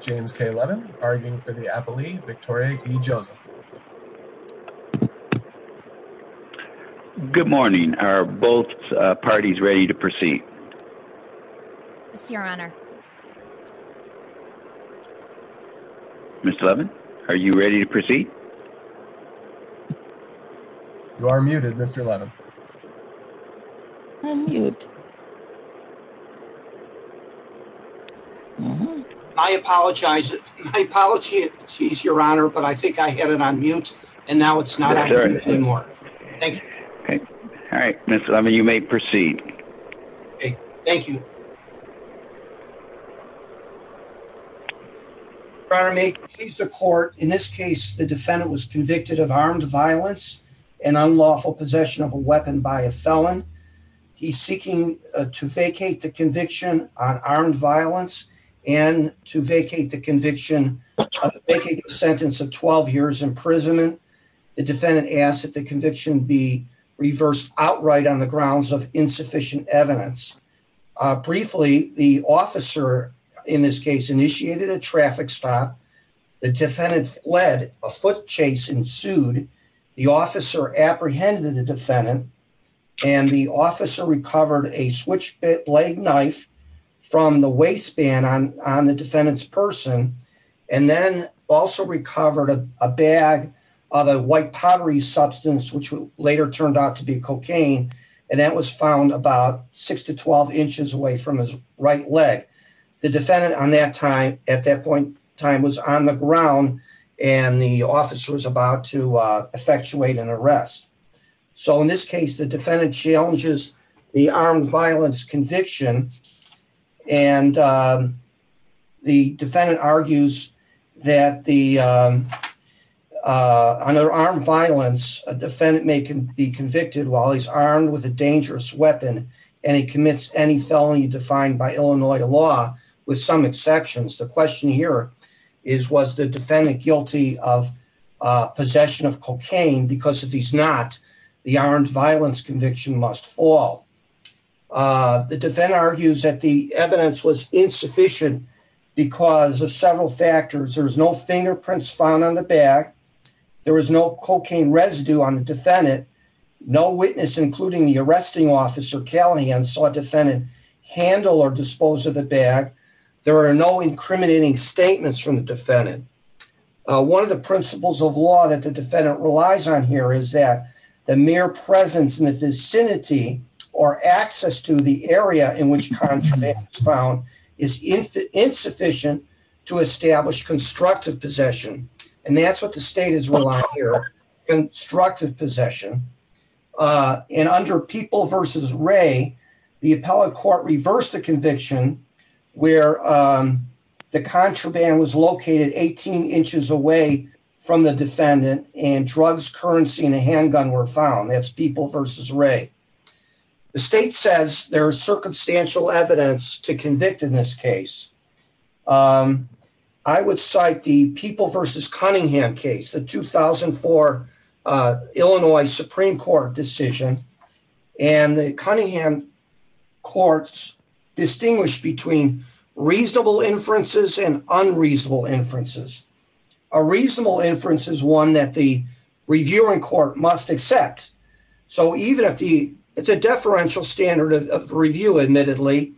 James K. Levin arguing for the appellee Victoria E. Joseph. Good morning, are both parties ready to proceed? Yes, your honor. Mr. Levin, are you ready to proceed? You are muted, Mr. Levin. I'm muted. I apologize. I apologize, your honor, but I think I had it on mute and now it's not anymore. All right, Mr. Levin, you may proceed. Thank you. Your honor, may it please the court. In this case, the defendant was convicted of armed violence and unlawful possession of a weapon by a felon. He's seeking to vacate the conviction on armed violence and to vacate the conviction of a sentence of 12 years imprisonment. The defendant asked that the conviction be reversed outright on the grounds of insufficient evidence. Briefly, the officer in this case initiated a traffic stop. The defendant fled. A foot chase ensued. The officer apprehended the defendant and the officer recovered a switchblade knife from the waistband on the defendant's person. And then also recovered a bag of a white pottery substance, which later turned out to be cocaine. And that was found about six to 12 inches away from his right leg. The defendant on that time at that point time was on the ground and the officer was about to effectuate an arrest. So in this case, the defendant challenges the armed violence conviction. And the defendant argues that the under armed violence, a defendant may be convicted while he's armed with a dangerous weapon. And he commits any felony defined by Illinois law, with some exceptions. The question here is, was the defendant guilty of possession of cocaine? Because if he's not, the armed violence conviction must fall. The defendant argues that the evidence was insufficient because of several factors. There's no fingerprints found on the bag. There was no cocaine residue on the defendant. No witness, including the arresting officer, Kelly, and so a defendant handle or dispose of the bag. There are no incriminating statements from the defendant. One of the principles of law that the defendant relies on here is that the mere presence in the vicinity or access to the area in which contraband is found is insufficient to establish constructive possession. And that's what the state is relying on here, constructive possession. And under People v. Ray, the appellate court reversed the conviction where the contraband was located 18 inches away from the defendant and drugs, currency and a handgun were found. That's People v. Ray. The state says there is circumstantial evidence to convict in this case. I would cite the People v. Cunningham case, the 2004 Illinois Supreme Court decision. And the Cunningham courts distinguish between reasonable inferences and unreasonable inferences. A reasonable inference is one that the reviewing court must accept. So even if the it's a deferential standard of review, admittedly,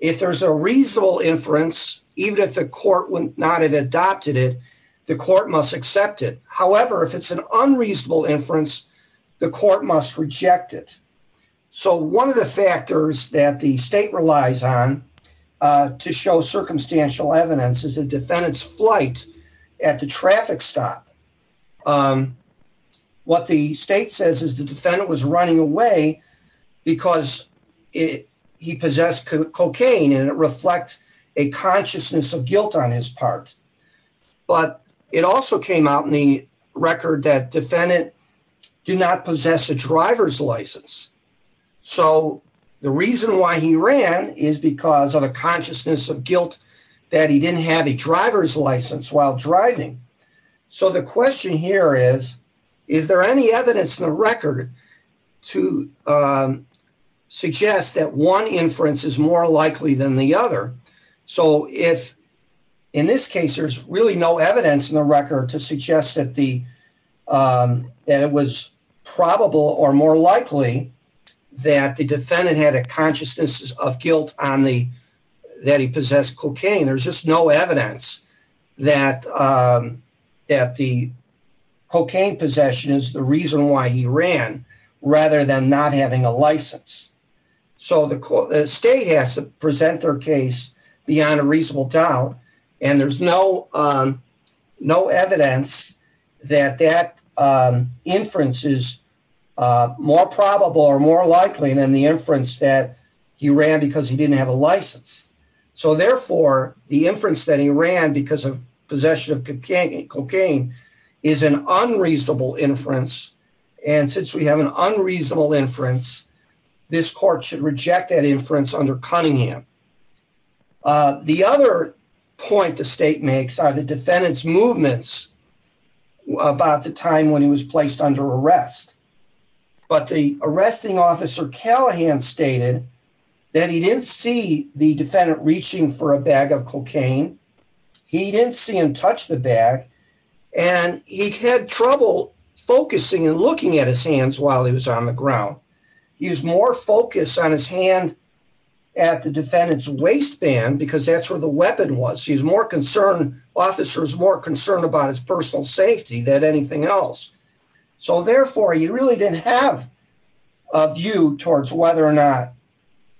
if there's a reasonable inference, even if the court would not have adopted it, the court must accept it. However, if it's an unreasonable inference, the court must reject it. So one of the factors that the state relies on to show circumstantial evidence is a defendant's flight at the traffic stop. What the state says is the defendant was running away because he possessed cocaine and it reflects a consciousness of guilt on his part. But it also came out in the record that defendant do not possess a driver's license. So the reason why he ran is because of a consciousness of guilt that he didn't have a driver's license while driving. So the question here is, is there any evidence in the record to suggest that one inference is more likely than the other? So if in this case, there's really no evidence in the record to suggest that the that it was probable or more likely that the defendant had a consciousness of guilt on the that he possessed cocaine. There's just no evidence that that the cocaine possession is the reason why he ran rather than not having a license. So the state has to present their case beyond a reasonable doubt. And there's no no evidence that that inference is more probable or more likely than the inference that he ran because he didn't have a license. So therefore, the inference that he ran because of possession of cocaine is an unreasonable inference. And since we have an unreasonable inference, this court should reject that inference under Cunningham. The other point the state makes are the defendant's movements about the time when he was placed under arrest. But the arresting officer, Callahan, stated that he didn't see the defendant reaching for a bag of cocaine. He didn't see him touch the bag and he had trouble focusing and looking at his hands while he was on the ground. He was more focused on his hand at the defendant's waistband because that's where the weapon was. He's more concerned officers, more concerned about his personal safety than anything else. So therefore, he really didn't have a view towards whether or not.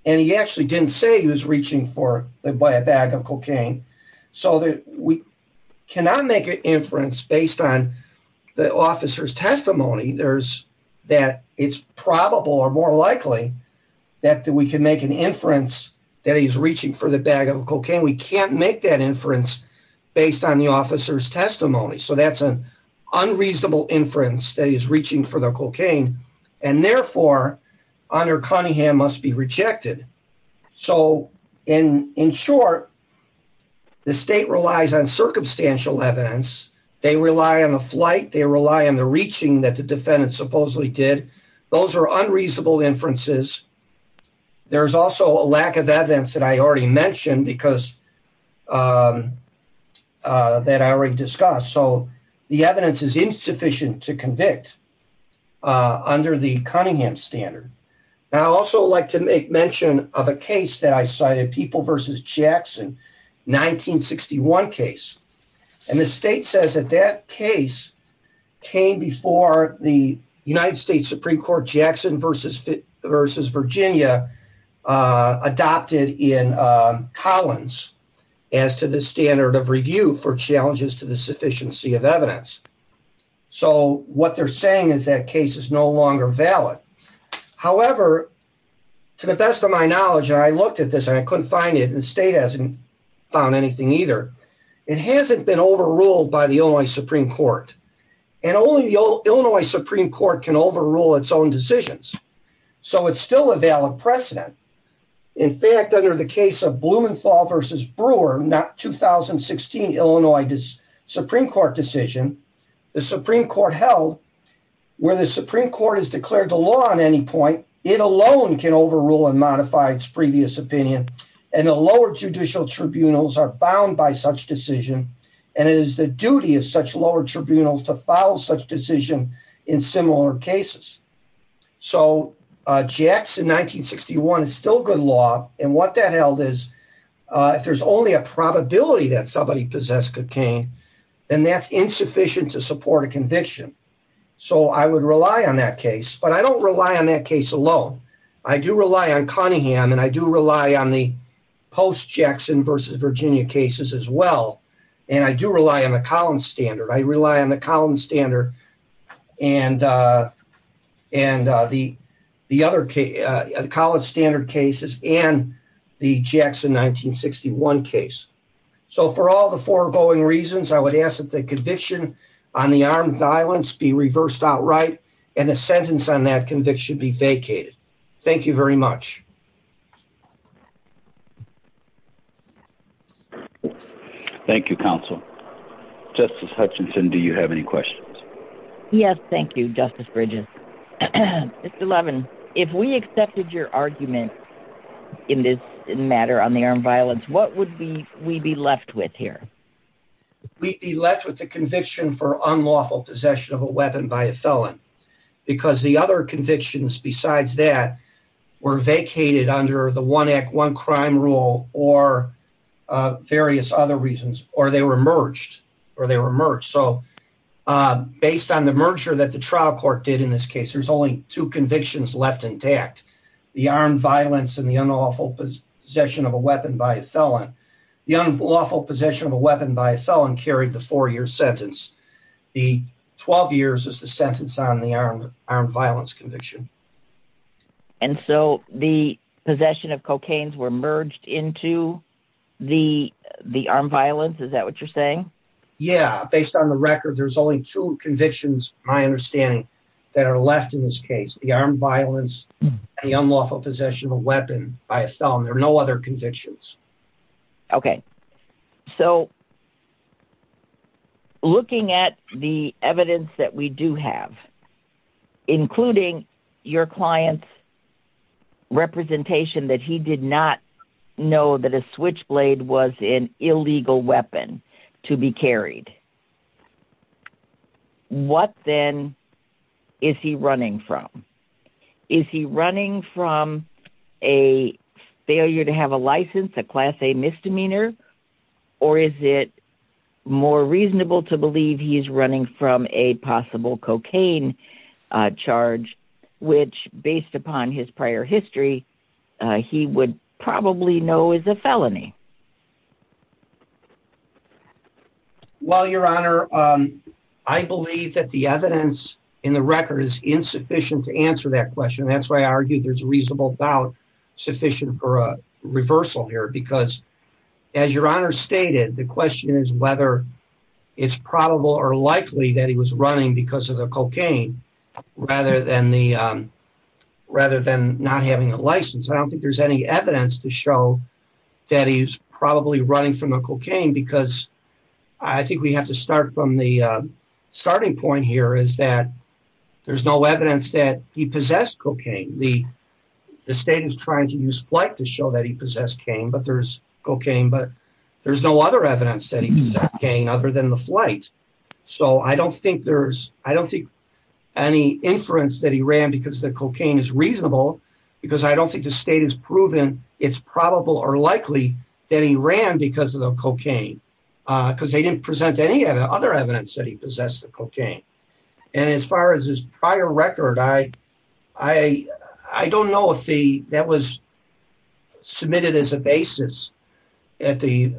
And he actually didn't say he was reaching for the bag of cocaine so that we cannot make an inference based on the officer's testimony. There's that it's probable or more likely that we can make an inference that he's reaching for the bag of cocaine. We can't make that inference based on the officer's testimony. So that's an unreasonable inference that he's reaching for the cocaine. And therefore, under Cunningham must be rejected. So in short, the state relies on circumstantial evidence. They rely on the flight. They rely on the reaching that the defendant supposedly did. Those are unreasonable inferences. There's also a lack of evidence that I already mentioned because that I already discussed. So the evidence is insufficient to convict under the Cunningham standard. Now, I also like to make mention of a case that I cited, People versus Jackson, 1961 case. And the state says that that case came before the United States Supreme Court Jackson versus Virginia adopted in Collins as to the standard of review for challenges to the sufficiency of evidence. So what they're saying is that case is no longer valid. However, to the best of my knowledge, I looked at this and I couldn't find it. The state hasn't found anything either. It hasn't been overruled by the only Supreme Court. And only the Illinois Supreme Court can overrule its own decisions. So it's still a valid precedent. In fact, under the case of Blumenthal versus Brewer, not 2016, Illinois Supreme Court decision, the Supreme Court held where the Supreme Court has declared the law on any point. It alone can overrule and modify its previous opinion. And the lower judicial tribunals are bound by such decision. And it is the duty of such lower tribunals to follow such decision in similar cases. So Jackson 1961 is still good law. And what that held is if there's only a probability that somebody possessed cocaine, then that's insufficient to support a conviction. So I would rely on that case. But I don't rely on that case alone. I do rely on Cunningham and I do rely on the post-Jackson versus Virginia cases as well. And I do rely on the Collins standard. I rely on the Collins standard and the other college standard cases and the Jackson 1961 case. So for all the foregoing reasons, I would ask that the conviction on the armed violence be reversed outright and the sentence on that conviction be vacated. Thank you very much. Thank you, counsel. Justice Hutchinson, do you have any questions? Yes, thank you, Justice Bridges. Mr. Levin, if we accepted your argument in this matter on the armed violence, what would we be left with here? We'd be left with the conviction for unlawful possession of a weapon by a felon. Because the other convictions besides that were vacated under the one act one crime rule or various other reasons or they were merged or they were merged. So based on the merger that the trial court did in this case, there's only two convictions left intact. The armed violence and the unlawful possession of a weapon by a felon. The unlawful possession of a weapon by a felon carried the four year sentence. The 12 years is the sentence on the armed violence conviction. And so the possession of cocaines were merged into the armed violence? Is that what you're saying? Yeah, based on the record, there's only two convictions, my understanding, that are left in this case. The armed violence, the unlawful possession of a weapon by a felon. There are no other convictions. OK, so looking at the evidence that we do have, including your clients. Representation that he did not know that a switchblade was an illegal weapon to be carried. What then is he running from? Is he running from a failure to have a license, a class, a misdemeanor, or is it more reasonable to believe he is running from a possible cocaine charge, which based upon his prior history, he would probably know is a felony. Well, your honor, I believe that the evidence in the record is insufficient to answer that question. That's why I argued there's reasonable doubt sufficient for a reversal here, because as your honor stated, the question is whether it's probable or likely that he was running because of the cocaine rather than the rather than not having a license. I don't think there's any evidence to show that he's probably running from the cocaine, because I think we have to start from the starting point here is that there's no evidence that he possessed cocaine. The state is trying to use flight to show that he possessed cane, but there's cocaine, but there's no other evidence that he possessed cane other than the flight. So I don't think there's I don't think any inference that he ran because the cocaine is reasonable, because I don't think the state has proven it's probable or likely that he ran because of the cocaine, because they didn't present any other evidence that he possessed the cocaine. And as far as his prior record, I don't know if that was submitted as a basis at the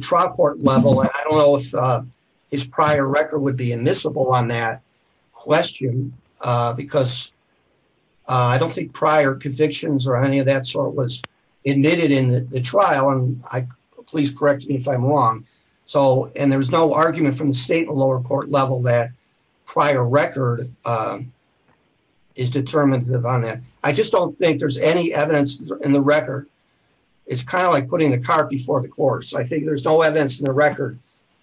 trial court level. I don't know if his prior record would be admissible on that question, because I don't think prior convictions or any of that sort was admitted in the trial. Please correct me if I'm wrong. So and there was no argument from the state in the lower court level that prior record is determinative on that. I just don't think there's any evidence in the record. It's kind of like putting the cart before the horse. I think there's no evidence in the record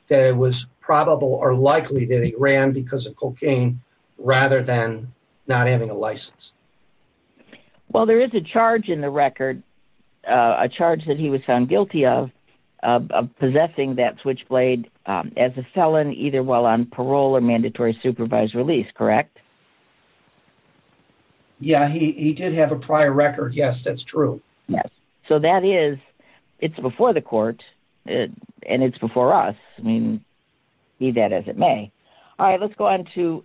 that it was probable or likely that he ran because of cocaine rather than not having a license. Well, there is a charge in the record, a charge that he was found guilty of possessing that switchblade as a felon, either while on parole or mandatory supervised release. Correct. Yeah, he did have a prior record. Yes, that's true. Yes. So that is it's before the court and it's before us. I mean, be that as it may. All right, let's go on to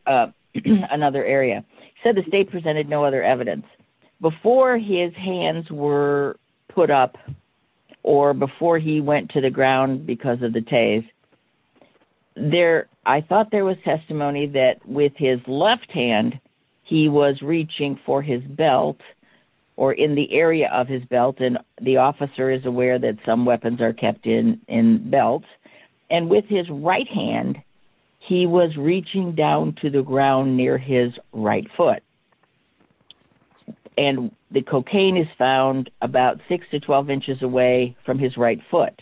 another area. He said the state presented no other evidence before his hands were put up or before he went to the ground because of the tase. I thought there was testimony that with his left hand, he was reaching for his belt or in the area of his belt. And the officer is aware that some weapons are kept in belts. And with his right hand, he was reaching down to the ground near his right foot. And the cocaine is found about six to 12 inches away from his right foot.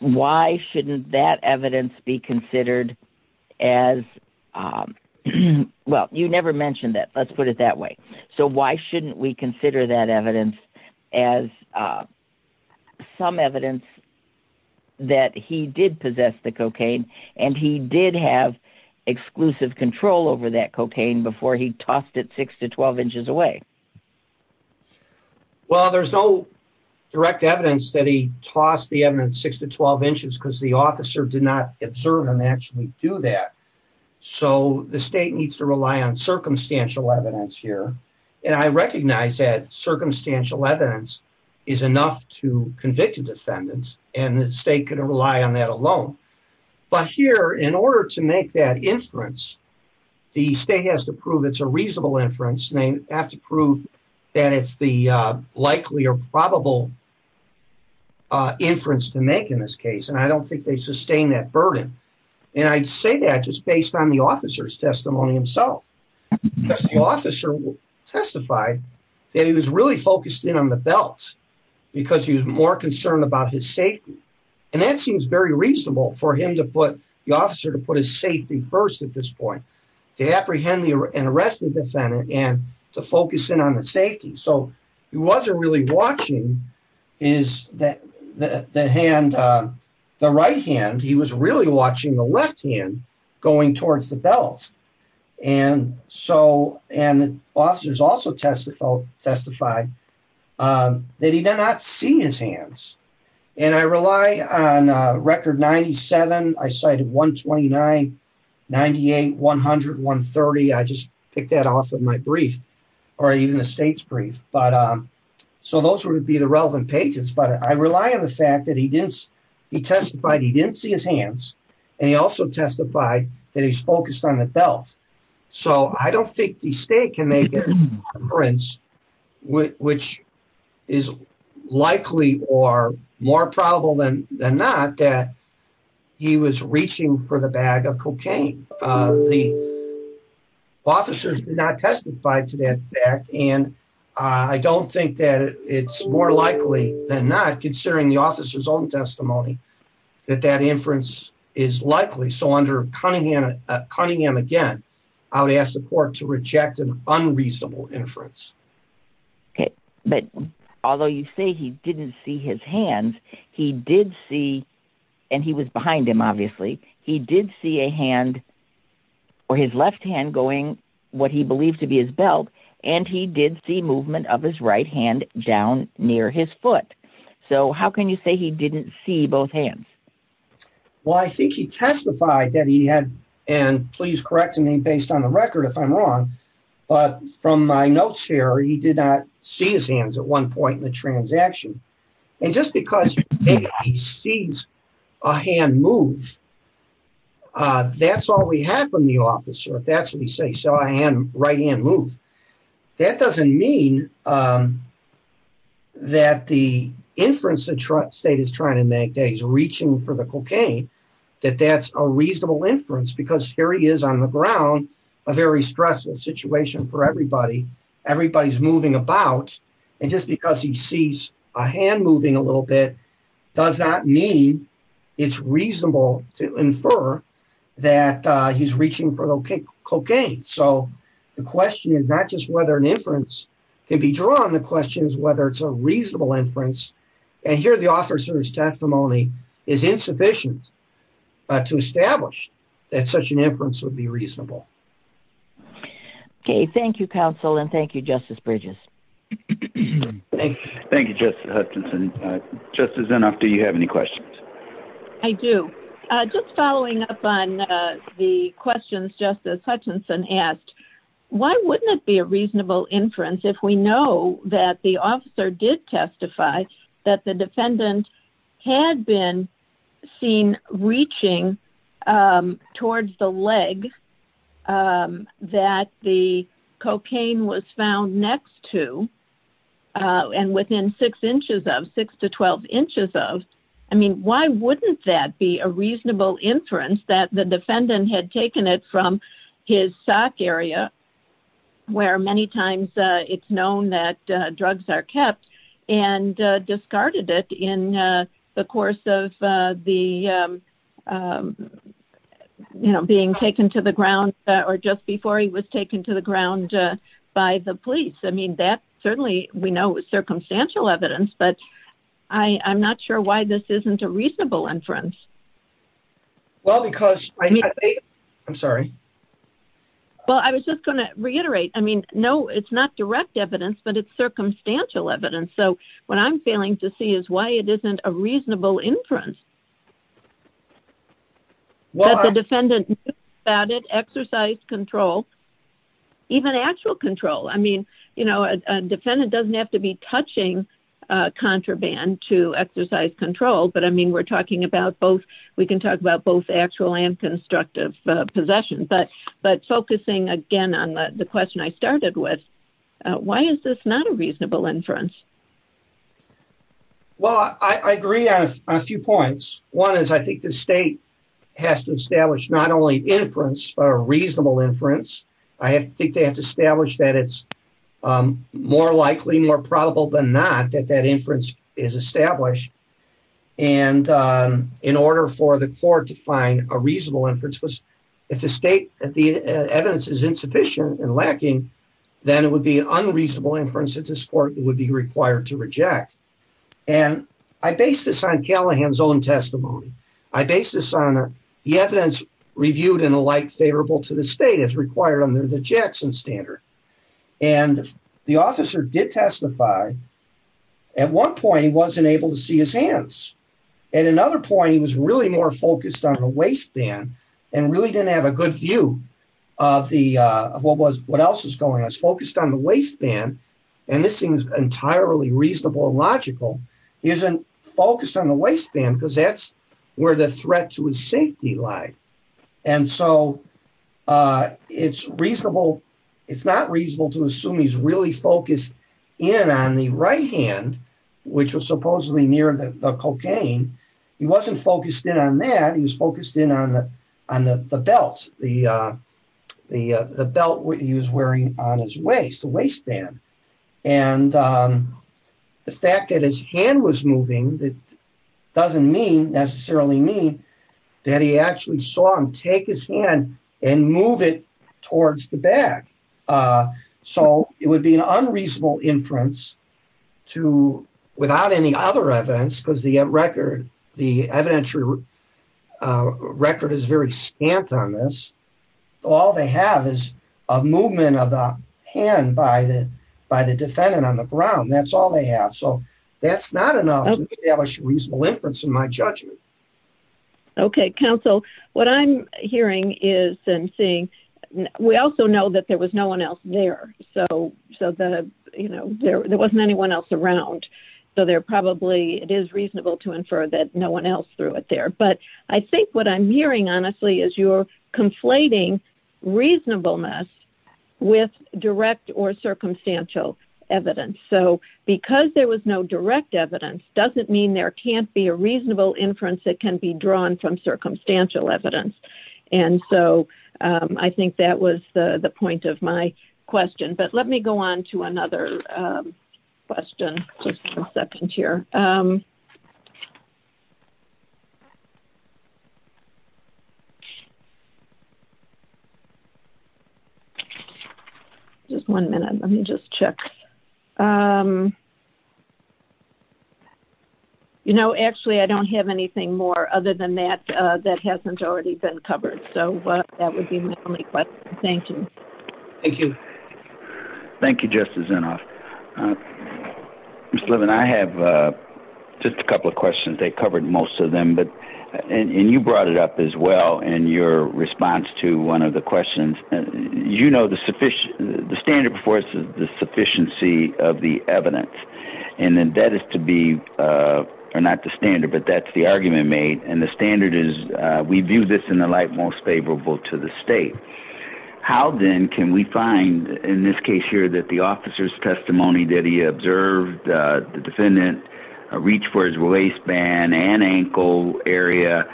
Why shouldn't that evidence be considered as well? You never mentioned that. Let's put it that way. So why shouldn't we consider that evidence as some evidence that he did possess the cocaine and he did have exclusive control over that cocaine before he tossed it six to 12 inches away? Well, there's no direct evidence that he tossed the evidence six to 12 inches because the officer did not observe him actually do that. So the state needs to rely on circumstantial evidence here. And I recognize that circumstantial evidence is enough to convict a defendant. And the state could rely on that alone. But here, in order to make that inference, the state has to prove it's a reasonable inference. And they have to prove that it's the likely or probable inference to make in this case. And I don't think they sustain that burden. And I'd say that just based on the officer's testimony himself. The officer testified that he was really focused in on the belt because he was more concerned about his safety. And that seems very reasonable for him to put the officer to put his safety first at this point to apprehend and arrest the defendant and to focus in on the safety. So he wasn't really watching the right hand. He was really watching the left hand going towards the belt. And so and officers also testified that he did not see his hands. And I rely on record 97. I cited 129, 98, 100, 130. I just picked that off of my brief or even the state's brief. But so those would be the relevant pages. But I rely on the fact that he didn't he testified he didn't see his hands. And he also testified that he's focused on the belt. So I don't think the state can make an inference which is likely or more probable than not that he was reaching for the bag of cocaine. The officers did not testify to that fact. And I don't think that it's more likely than not, considering the officer's own testimony, that that inference is likely. So under Cunningham again, I would ask the court to reject an unreasonable inference. OK, but although you say he didn't see his hands, he did see and he was behind him, obviously. He did see a hand or his left hand going what he believed to be his belt. And he did see movement of his right hand down near his foot. So how can you say he didn't see both hands? Well, I think he testified that he had. And please correct me based on the record if I'm wrong. But from my notes here, he did not see his hands at one point in the transaction. And just because he sees a hand move. That's all we have from the officer. But that's what we say. So I am right hand move. That doesn't mean that the inference that state is trying to make that he's reaching for the cocaine, that that's a reasonable inference. Because here he is on the ground, a very stressful situation for everybody. Everybody's moving about. And just because he sees a hand moving a little bit does not mean it's reasonable to infer that he's reaching for cocaine. So the question is not just whether an inference can be drawn. The question is whether it's a reasonable inference. And here the officer's testimony is insufficient to establish that such an inference would be reasonable. OK. Thank you, counsel. And thank you, Justice Bridges. Thank you, Justice Hutchinson. Justice Zinov, do you have any questions? I do. Just following up on the questions Justice Hutchinson asked, why wouldn't it be a reasonable inference if we know that the officer did testify that the defendant had been seen reaching towards the leg? That the cocaine was found next to and within six inches of six to 12 inches of. I mean, why wouldn't that be a reasonable inference that the defendant had taken it from his sock area where many times it's known that drugs are kept and discarded it in the course of the, you know, being taken to the ground or just before he was taken to the ground by the police? I mean, that certainly we know is circumstantial evidence, but I'm not sure why this isn't a reasonable inference. Well, because I mean, I'm sorry. Well, I was just going to reiterate. I mean, no, it's not direct evidence, but it's circumstantial evidence. So what I'm failing to see is why it isn't a reasonable inference. That the defendant knew about it, exercised control, even actual control. I mean, you know, a defendant doesn't have to be touching contraband to exercise control. But I mean, we're talking about both. We can talk about both actual and constructive possession. But, but focusing again on the question I started with, why is this not a reasonable inference? Well, I agree on a few points. One is I think the state has to establish not only inference, but a reasonable inference. I think they have to establish that it's more likely, more probable than not that that inference is established. And in order for the court to find a reasonable inference, if the state, if the evidence is insufficient and lacking, then it would be an unreasonable inference that this court would be required to reject. And I base this on Callahan's own testimony. I base this on the evidence reviewed and alike favorable to the state as required under the Jackson standard. And the officer did testify. At one point, he wasn't able to see his hands. At another point, he was really more focused on the waistband and really didn't have a good view of the, of what was, what else was going on. And this seems entirely reasonable and logical. He isn't focused on the waistband because that's where the threat to his safety lie. And so it's reasonable. It's not reasonable to assume he's really focused in on the right hand, which was supposedly near the cocaine. He wasn't focused in on that. He was focused in on the belt, the belt he was wearing on his waist, the waistband. And the fact that his hand was moving doesn't mean, necessarily mean, that he actually saw him take his hand and move it towards the back. So it would be an unreasonable inference to, without any other evidence, because the record, the evidentiary record is very scant on this. All they have is a movement of the hand by the defendant on the ground. That's all they have. So that's not enough to establish a reasonable inference in my judgment. Okay. Counsel, what I'm hearing is and seeing, we also know that there was no one else there. So, so the, you know, there wasn't anyone else around. So they're probably, it is reasonable to infer that no one else threw it there. But I think what I'm hearing, honestly, is you're conflating reasonableness with direct or circumstantial evidence. So because there was no direct evidence doesn't mean there can't be a reasonable inference that can be drawn from circumstantial evidence. And so I think that was the point of my question. But let me go on to another question. Just a second here. Just one minute. Let me just check. You know, actually, I don't have anything more other than that, that hasn't already been covered. So that would be my only question. Thank you. Thank you, Justice Inhofe. Mr. Levin, I have just a couple of questions. They covered most of them. And you brought it up as well in your response to one of the questions. You know, the standard before us is the sufficiency of the evidence. And that is to be, or not the standard, but that's the argument made. And the standard is we view this in the light most favorable to the state. How then can we find, in this case here, that the officer's testimony that he observed the defendant reach for his waistband and ankle area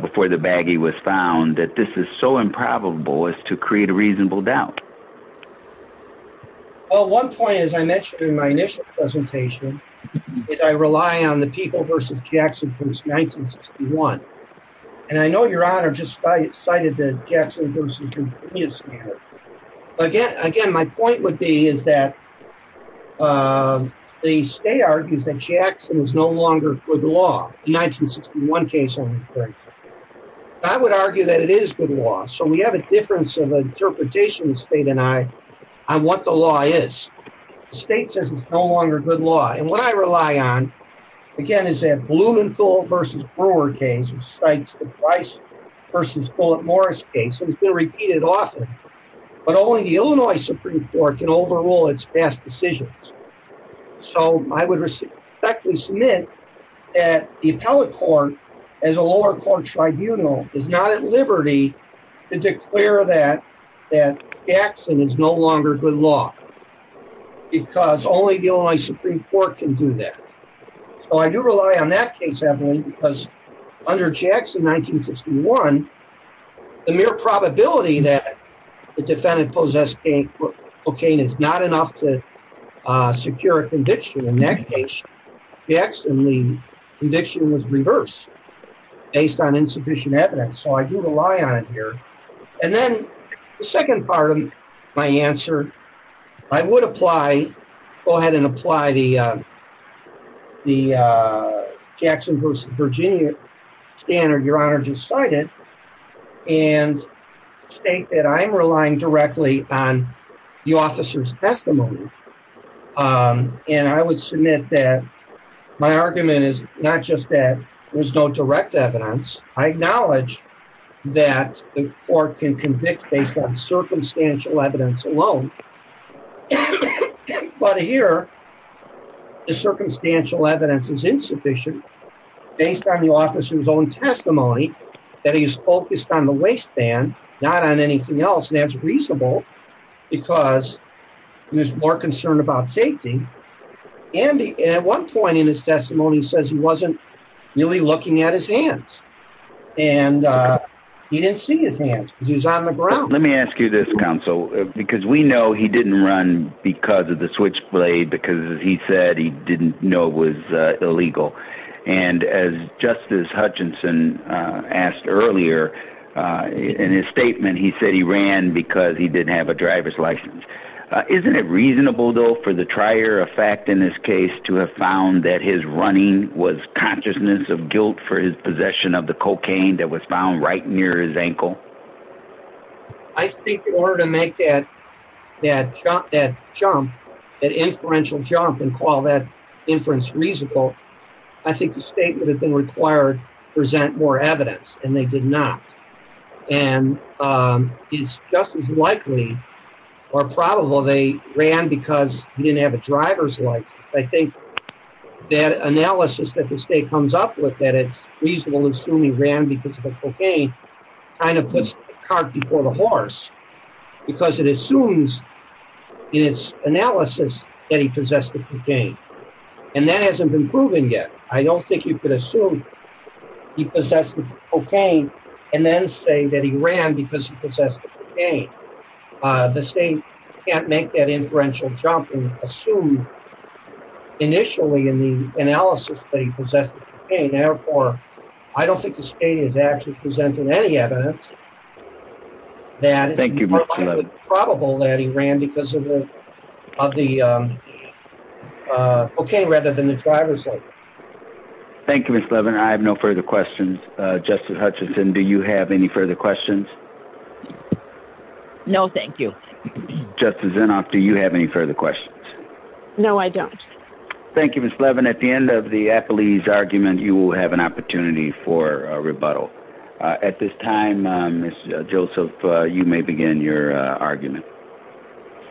before the baggie was found, that this is so improbable as to create a reasonable doubt? Well, one point, as I mentioned in my initial presentation, is I rely on the People v. Jackson v. 1961. And I know, Your Honor, just cited the Jackson v. continuous manner. Again, my point would be is that the state argues that Jackson is no longer good law. The 1961 case, I would argue that it is good law. So we have a difference of interpretation, the state and I, on what the law is. The state says it's no longer good law. And what I rely on, again, is that Blumenthal v. Brewer case, which cites the Price v. Bullitt-Morris case, and it's been repeated often, but only the Illinois Supreme Court can overrule its past decisions. So I would respectfully submit that the appellate court, as a lower court tribunal, is not at liberty to declare that Jackson is no longer good law, because only the Illinois Supreme Court can do that. So I do rely on that case, evidently, because under Jackson v. 1961, the mere probability that the defendant possessed cocaine is not enough to secure a conviction. In that case, Jackson's conviction was reversed based on insufficient evidence. So I do rely on it here. And then the second part of my answer, I would apply, go ahead and apply the Jackson v. Virginia standard Your Honor just cited, and state that I am relying directly on the officer's testimony. And I would submit that my argument is not just that there's no direct evidence. I acknowledge that the court can convict based on circumstantial evidence alone. But here, the circumstantial evidence is insufficient, based on the officer's own testimony, that he's focused on the waistband, not on anything else. And that's reasonable, because there's more concern about safety. And at one point in his testimony, he says he wasn't really looking at his hands. And he didn't see his hands, because he was on the ground. Let me ask you this counsel, because we know he didn't run because of the switchblade, because he said he didn't know it was illegal. And as Justice Hutchinson asked earlier, in his statement, he said he ran because he didn't have a driver's license. Isn't it reasonable, though, for the trier of fact in this case to have found that his running was consciousness of guilt for his possession of the cocaine that was found right near his ankle? I think in order to make that jump, that inferential jump, and call that inference reasonable, I think the state would have been required to present more evidence. And they did not. And it's just as likely or probable they ran because he didn't have a driver's license. I think that analysis that the state comes up with, that it's reasonable to assume he ran because of the cocaine, kind of puts the cart before the horse. Because it assumes in its analysis that he possessed the cocaine. And that hasn't been proven yet. I don't think you could assume he possessed the cocaine and then say that he ran because he possessed the cocaine. The state can't make that inferential jump and assume initially in the analysis that he possessed the cocaine. Therefore, I don't think the state is actually presenting any evidence that it's more likely than probable that he ran because of the cocaine rather than the driver's license. Thank you, Mr. Levin. I have no further questions. Justice Hutchinson, do you have any further questions? No, thank you. Justice Inhofe, do you have any further questions? No, I don't. Thank you, Ms. Levin. At the end of the Appellee's argument, you will have an opportunity for a rebuttal. At this time, Ms. Joseph, you may begin your argument.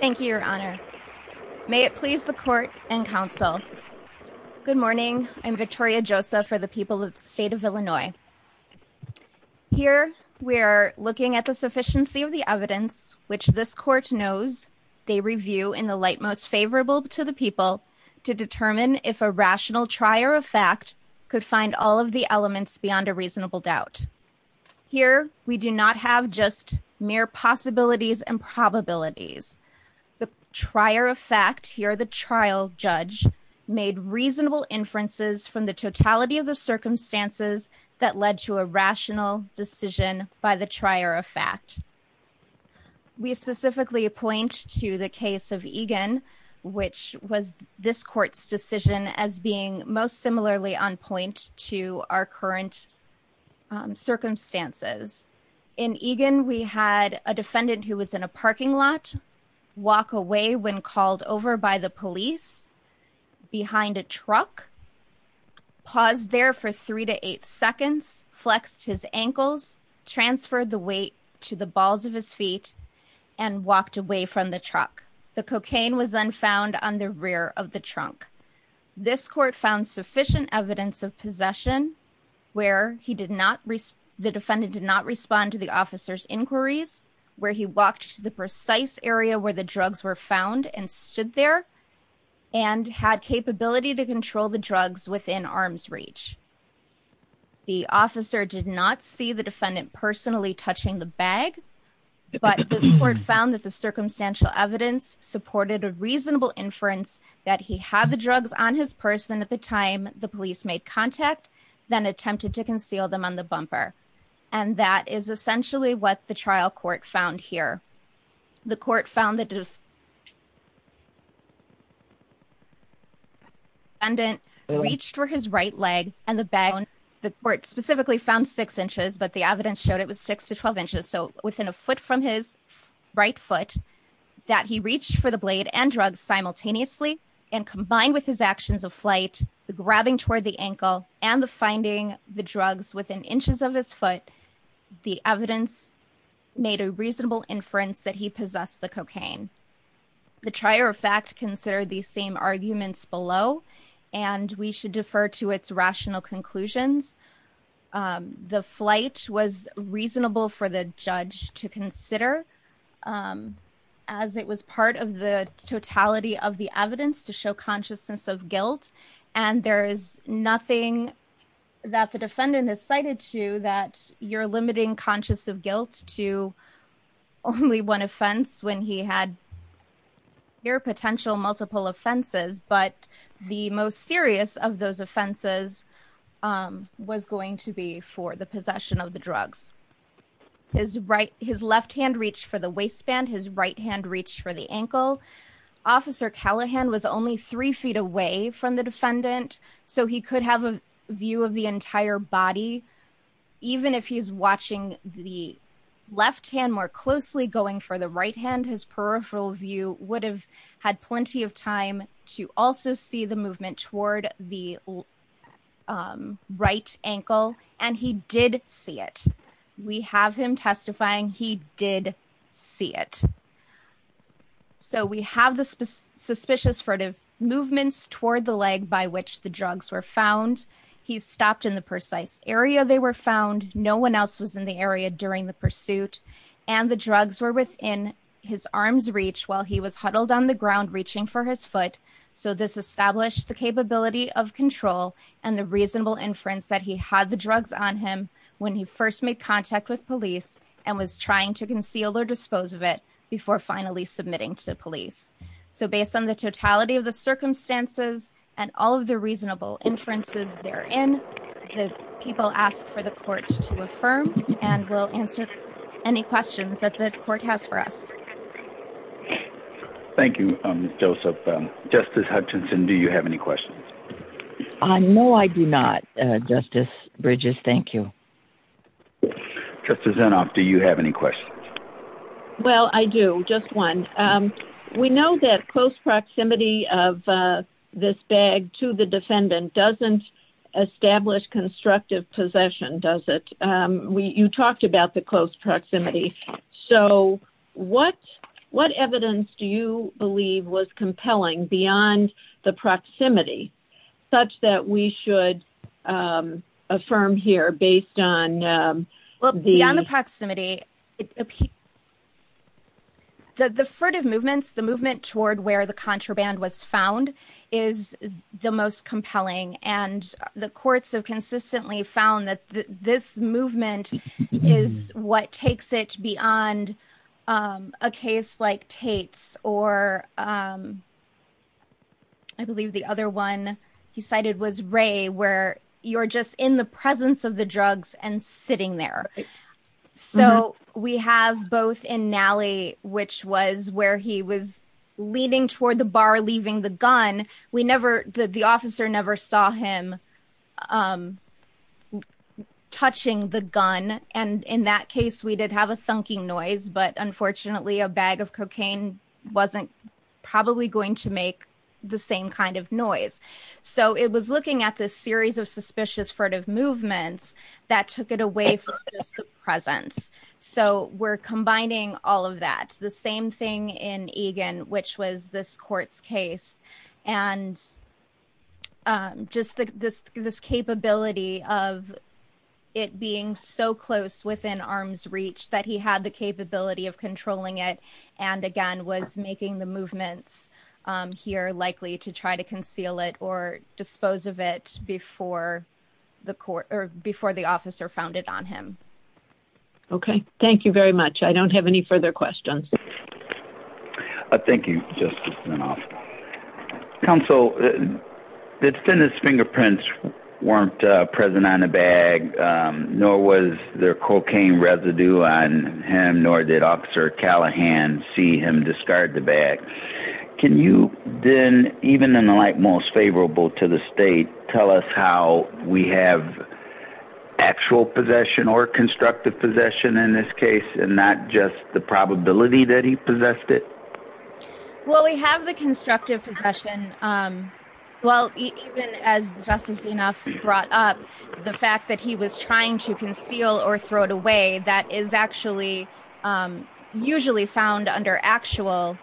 Thank you, Your Honor. May it please the court and counsel. Good morning. I'm Victoria Joseph for the people of the state of Illinois. Here, we're looking at the sufficiency of the evidence, which this court knows they review in the light most favorable to the people to determine if a rational trier of fact could find all of the elements beyond a reasonable doubt. Here, we do not have just mere possibilities and probabilities. The trier of fact, here the trial judge, made reasonable inferences from the totality of the circumstances that led to a rational decision by the trier of fact. We specifically point to the case of Egan, which was this court's decision as being most similarly on point to our current circumstances. In Egan, we had a defendant who was in a parking lot, walk away when called over by the police, behind a truck, paused there for three to eight seconds, flexed his ankles, transferred the weight to the balls of his feet, and walked away from the truck. The cocaine was then found on the rear of the trunk. This court found sufficient evidence of possession where the defendant did not respond to the officer's inquiries, where he walked to the precise area where the drugs were found and stood there, and had capability to control the drugs within arm's reach. The officer did not see the defendant personally touching the bag, but this court found that the circumstantial evidence supported a reasonable inference that he had the drugs on his person at the time the police made contact, then attempted to conceal them on the bumper. And that is essentially what the trial court found here. The court found that the defendant reached for his right leg and the bag, the court specifically found six inches, but the evidence showed it was six to 12 inches, so within a foot from his right foot, that he reached for the blade and drugs simultaneously. And combined with his actions of flight, the grabbing toward the ankle, and the finding the drugs within inches of his foot, the evidence made a reasonable inference that he possessed the cocaine. The trial court found that the defendant did not respond to the officer's inquiries, but this court found that the defendant did not respond to the officer's inquiries. Here are potential multiple offenses, but the most serious of those offenses was going to be for the possession of the drugs. His right, his left hand reached for the waistband, his right hand reached for the ankle. Officer Callahan was only three feet away from the defendant, so he could have a view of the entire body. Even if he's watching the left hand more closely, going for the right hand, his peripheral view would have had plenty of time to also see the movement toward the right ankle, and he did see it. We have him testifying, he did see it. So we have the suspicious sort of movements toward the leg by which the drugs were found. He stopped in the precise area they were found, no one else was in the area during the pursuit, and the drugs were within his arm's reach while he was huddled on the ground reaching for his foot. So this established the capability of control and the reasonable inference that he had the drugs on him when he first made contact with police and was trying to conceal or dispose of it before finally submitting to police. So based on the totality of the circumstances and all of the reasonable inferences therein, the people asked for the court to affirm, and we'll answer any questions that the court has for us. Thank you, Joseph. Justice Hutchinson, do you have any questions? No, I do not. Justice Bridges, thank you. Justice Inhofe, do you have any questions? Well, I do. Just one. We know that close proximity of this bag to the defendant doesn't establish constructive possession, does it? You talked about the close proximity. So what evidence do you believe was compelling beyond the proximity such that we should affirm here based on the… …that this movement is what takes it beyond a case like Tate's or I believe the other one he cited was Ray, where you're just in the presence of the drugs and sitting there. So we have both in Nally, which was where he was leaning toward the bar, leaving the gun. The officer never saw him touching the gun. And in that case, we did have a thunking noise, but unfortunately, a bag of cocaine wasn't probably going to make the same kind of noise. So it was looking at this series of suspicious furtive movements that took it away from just the presence. So we're combining all of that. The same thing in Egan, which was this court's case. And just this capability of it being so close within arm's reach that he had the capability of controlling it and, again, was making the movements here likely to try to conceal it or dispose of it before the officer found it on him. Okay. Thank you very much. I don't have any further questions. Thank you, Justice Mendoza. Counsel, the defendant's fingerprints weren't present on the bag, nor was there cocaine residue on him, nor did Officer Callahan see him discard the bag. Can you then, even in the light most favorable to the state, tell us how we have actual possession or constructive possession in this case, and not just the probability that he possessed it? Well, we have the constructive possession. Well, even as Justice Enough brought up, the fact that he was trying to conceal or throw it away, that is actually usually found under actual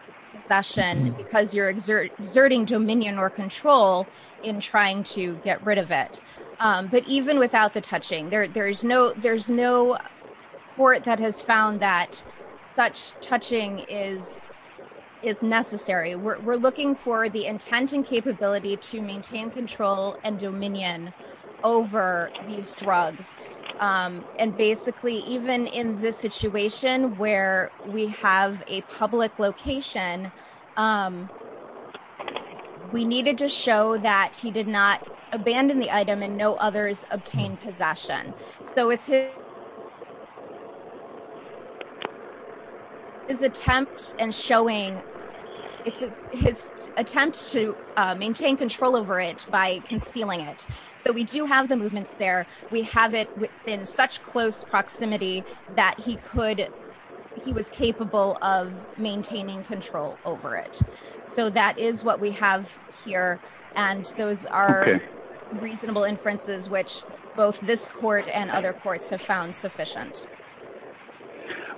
possession because you're exerting dominion or control in trying to get rid of it. But even without the touching, there's no court that has found that such touching is necessary. We're looking for the intent and capability to maintain control and dominion over these drugs. And basically, even in this situation where we have a public location, we needed to show that he did not abandon the item and no others obtained possession. So it's his attempt to maintain control over it by concealing it. So we do have the movements there. We have it within such close proximity that he was capable of maintaining control over it. So that is what we have here. And those are reasonable inferences, which both this court and other courts have found sufficient.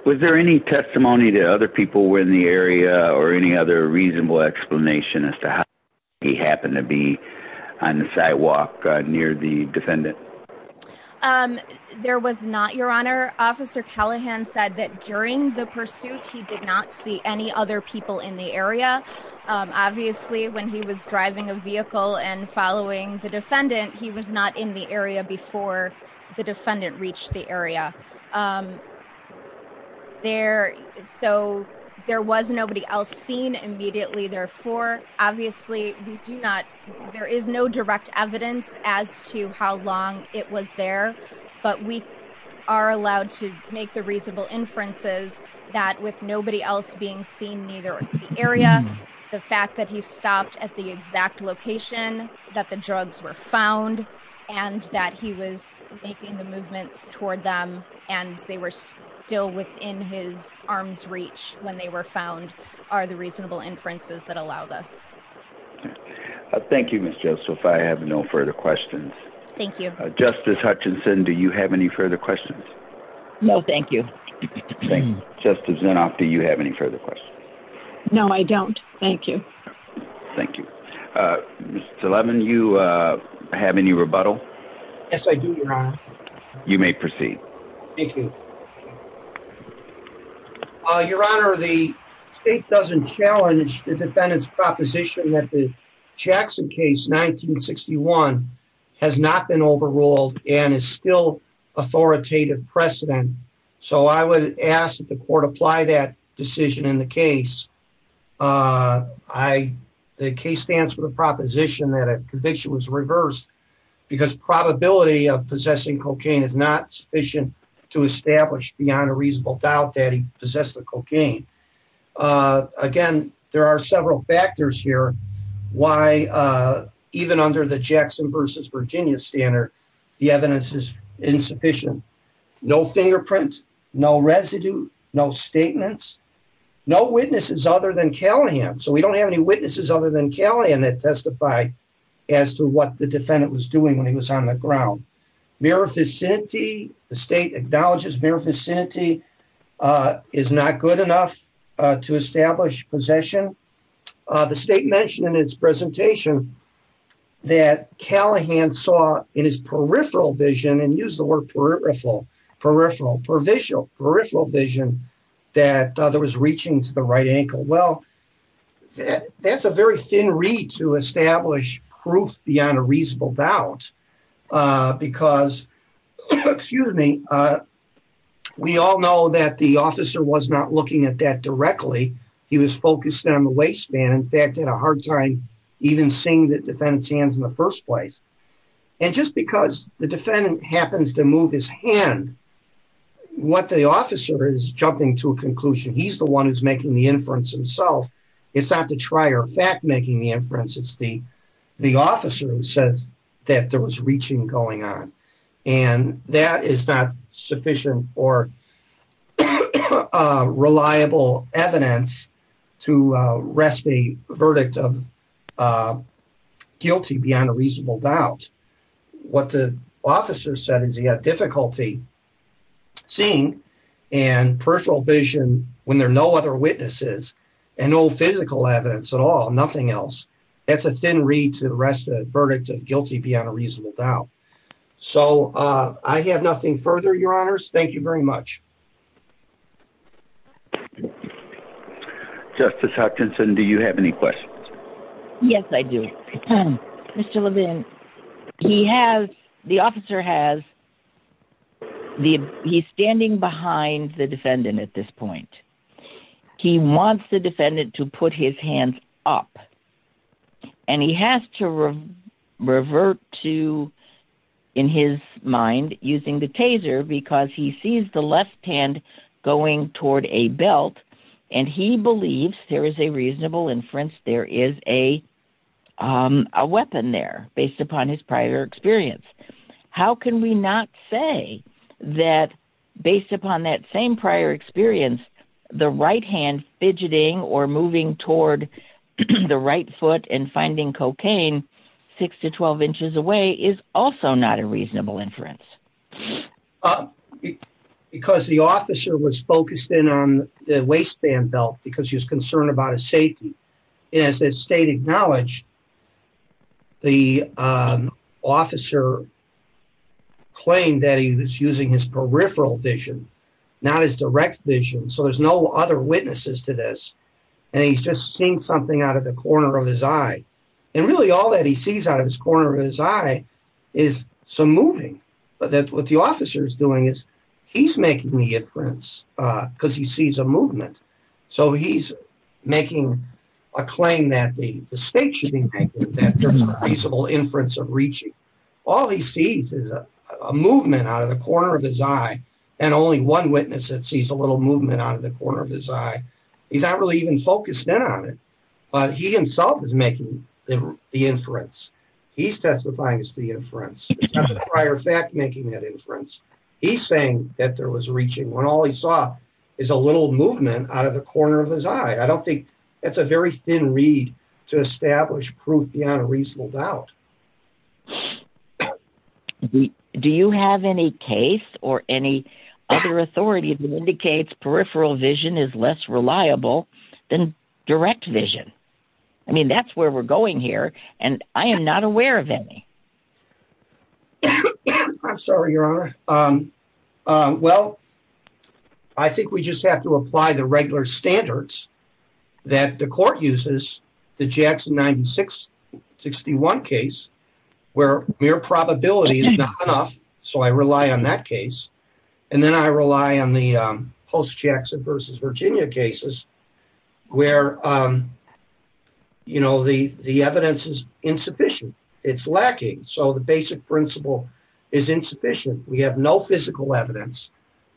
Was there any testimony to other people in the area or any other reasonable explanation as to how he happened to be on the sidewalk near the defendant? There was not, Your Honor. Officer Callahan said that during the pursuit, he did not see any other people in the area. Obviously, when he was driving a vehicle and following the defendant, he was not in the area before the defendant reached the area there. So there was nobody else seen immediately. Therefore, obviously, we do not, there is no direct evidence as to how long it was there. But we are allowed to make the reasonable inferences that with nobody else being seen neither in the area, the fact that he stopped at the exact location that the drugs were found and that he was making the movements toward them and they were still within his arms reach when they were found are the reasonable inferences that allow this. Thank you, Ms. Joseph. I have no further questions. Thank you. Justice Hutchinson, do you have any further questions? No, thank you. Justice Zinoff, do you have any further questions? No, I don't. Thank you. Thank you. Mr. Levin, you have any rebuttal? Yes, I do, Your Honor. You may proceed. Thank you. Your Honor, the state doesn't challenge the defendant's proposition that the Jackson case 1961 has not been overruled and is still authoritative precedent. So I would ask that the court apply that decision in the case. The case stands for the proposition that a conviction was reversed because probability of possessing cocaine is not sufficient to establish beyond a reasonable doubt that he possessed the cocaine. Again, there are several factors here why even under the Jackson versus Virginia standard, the evidence is insufficient. No fingerprint, no residue, no statements, no witnesses other than Callahan. So we don't have any witnesses other than Callahan that testify as to what the defendant was doing when he was on the ground. The state acknowledges mere vicinity is not good enough to establish possession. The state mentioned in its presentation that Callahan saw in his peripheral vision and use the word peripheral, peripheral, peripheral, peripheral vision that there was reaching to the right ankle. Well, that's a very thin reed to establish proof beyond a reasonable doubt because, excuse me, we all know that the officer was not looking at that directly. He was focused on the waistband, in fact, had a hard time even seeing the defendant's hands in the first place. And just because the defendant happens to move his hand, what the officer is jumping to a conclusion, he's the one who's making the inference himself. It's not the trier fact making the inference, it's the officer who says that there was reaching going on. And that is not sufficient or reliable evidence to rest the verdict of guilty beyond a reasonable doubt. What the officer said is he had difficulty seeing and peripheral vision when there are no other witnesses and no physical evidence at all, nothing else. That's a thin reed to rest the verdict of guilty beyond a reasonable doubt. So I have nothing further, Your Honors. Thank you very much. Justice Hutchinson, do you have any questions? Yes, I do. Mr. Levine, he has, the officer has, he's standing behind the defendant at this point. He wants the defendant to put his hands up. And he has to revert to, in his mind, using the taser because he sees the left hand going toward a belt. And he believes there is a reasonable inference there is a weapon there based upon his prior experience. How can we not say that based upon that same prior experience, the right hand fidgeting or moving toward the right foot and finding cocaine six to 12 inches away is also not a reasonable inference? Because the officer was focused in on the waistband belt because he was concerned about his safety. And as the state acknowledged, the officer claimed that he was using his peripheral vision, not his direct vision. So there's no other witnesses to this. And he's just seeing something out of the corner of his eye. And really all that he sees out of his corner of his eye is some moving. But that's what the officer is doing is he's making the inference because he sees a movement. So he's making a claim that the state should be making that there's a reasonable inference of reaching. All he sees is a movement out of the corner of his eye. And only one witness that sees a little movement out of the corner of his eye. He's not really even focused in on it, but he himself is making the inference. He's testifying as the inference. It's not the prior fact making that inference. He's saying that there was reaching when all he saw is a little movement out of the corner of his eye. I don't think that's a very thin reed to establish proof beyond a reasonable doubt. Do you have any case or any other authority that indicates peripheral vision is less reliable than direct vision? I mean, that's where we're going here. And I am not aware of any. I'm sorry, Your Honor. Well, I think we just have to apply the regular standards that the court uses. The Jackson 9661 case where mere probability is not enough. So I rely on that case. And then I rely on the post Jackson versus Virginia cases where, you know, the the evidence is insufficient. It's lacking. So the basic principle is insufficient. We have no physical evidence,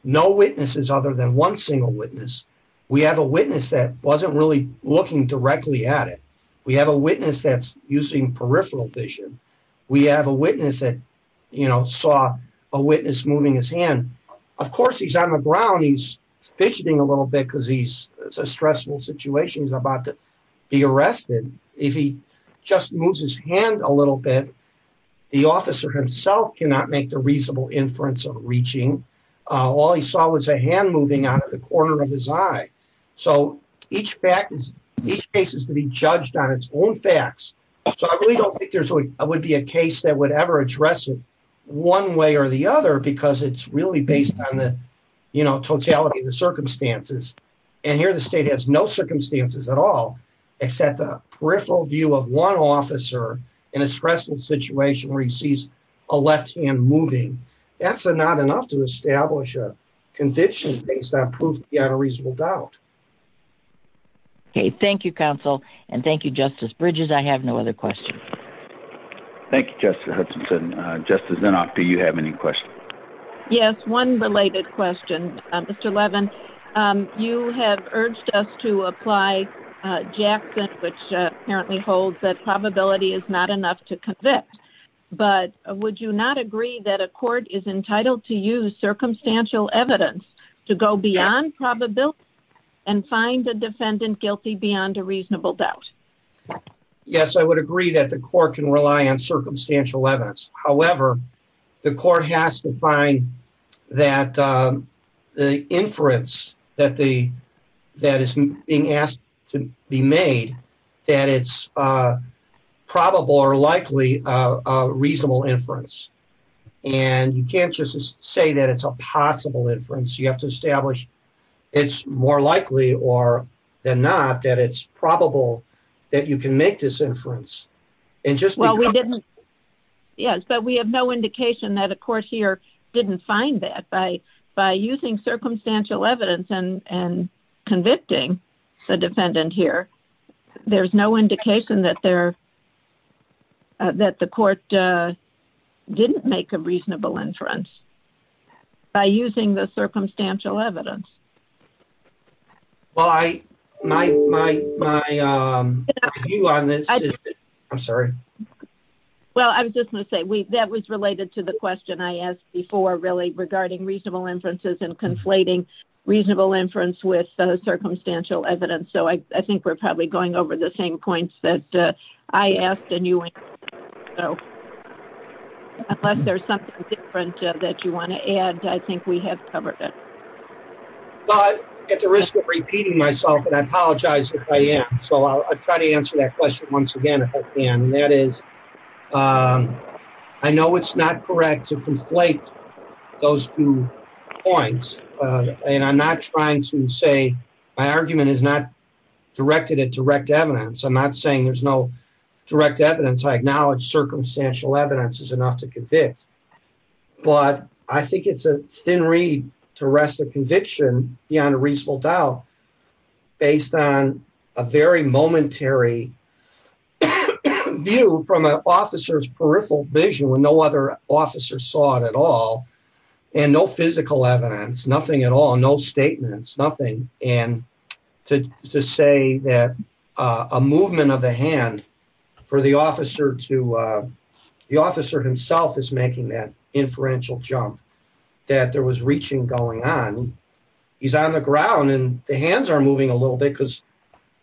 no witnesses other than one single witness. We have a witness that wasn't really looking directly at it. We have a witness that's using peripheral vision. We have a witness that, you know, saw a witness moving his hand. Of course, he's on the ground. He's fidgeting a little bit because he's a stressful situation. He's about to be arrested if he just moves his hand a little bit. The officer himself cannot make the reasonable inference of reaching. All he saw was a hand moving out of the corner of his eye. So each fact is each case is to be judged on its own facts. So I really don't think there would be a case that would ever address it one way or the other because it's really based on the, you know, totality of the circumstances. And here the state has no circumstances at all except a peripheral view of one officer in a stressful situation where he sees a left hand moving. That's not enough to establish a conviction based on proof beyond a reasonable doubt. OK, thank you, counsel. And thank you, Justice Bridges. I have no other questions. Thank you, Justice Hudson. Justice Zinoff, do you have any questions? Yes, one related question, Mr. Levin. You have urged us to apply Jackson, which apparently holds that probability is not enough to convict. But would you not agree that a court is entitled to use circumstantial evidence to go beyond probability and find the defendant guilty beyond a reasonable doubt? Yes, I would agree that the court can rely on circumstantial evidence. However, the court has to find that the inference that is being asked to be made, that it's probable or likely a reasonable inference. And you can't just say that it's a possible inference. You have to establish it's more likely than not that it's probable that you can make this inference. Yes, but we have no indication that a court here didn't find that by using circumstantial evidence and convicting the defendant here. There's no indication that the court didn't make a reasonable inference by using the circumstantial evidence. Well, my view on this is... I'm sorry. Well, I was just going to say that was related to the question I asked before, really, regarding reasonable inferences and conflating reasonable inference with circumstantial evidence. So I think we're probably going over the same points that I asked and you answered. Unless there's something different that you want to add, I think we have covered it. Well, I'm at the risk of repeating myself and I apologize if I am. So I'll try to answer that question once again if I can. And that is, I know it's not correct to conflate those two points. And I'm not trying to say my argument is not directed at direct evidence. I'm not saying there's no direct evidence. I acknowledge circumstantial evidence is enough to convict. But I think it's a thin reed to rest a conviction beyond a reasonable doubt based on a very momentary view from an officer's peripheral vision when no other officer saw it at all. And no physical evidence, nothing at all, no statements, nothing. And to say that a movement of the hand for the officer to the officer himself is making that inferential jump that there was reaching going on. He's on the ground and the hands are moving a little bit because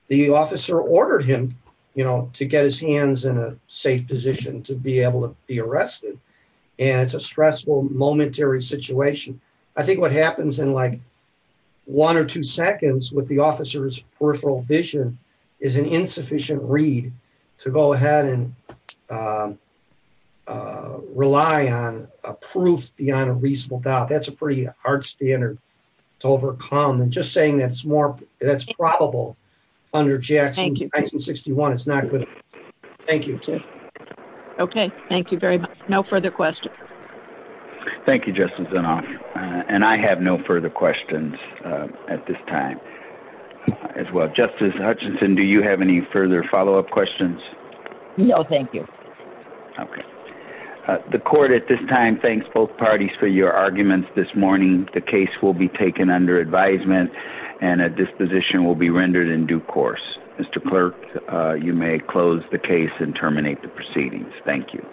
the officer ordered him, you know, to get his hands in a safe position to be able to be arrested. And it's a stressful momentary situation. I think what happens in like one or two seconds with the officer's peripheral vision is an insufficient reed to go ahead and rely on a proof beyond a reasonable doubt. That's a pretty hard standard to overcome. And just saying that's probable under Jackson 61 is not good. Thank you. Okay. Thank you very much. No further questions. Thank you, Justice Zinoff. And I have no further questions at this time as well. Justice Hutchinson, do you have any further follow-up questions? No, thank you. Okay. The court at this time thanks both parties for your arguments this morning. The case will be taken under advisement and a disposition will be rendered in due course. Mr. Clerk, you may close the case and terminate the proceedings. Thank you.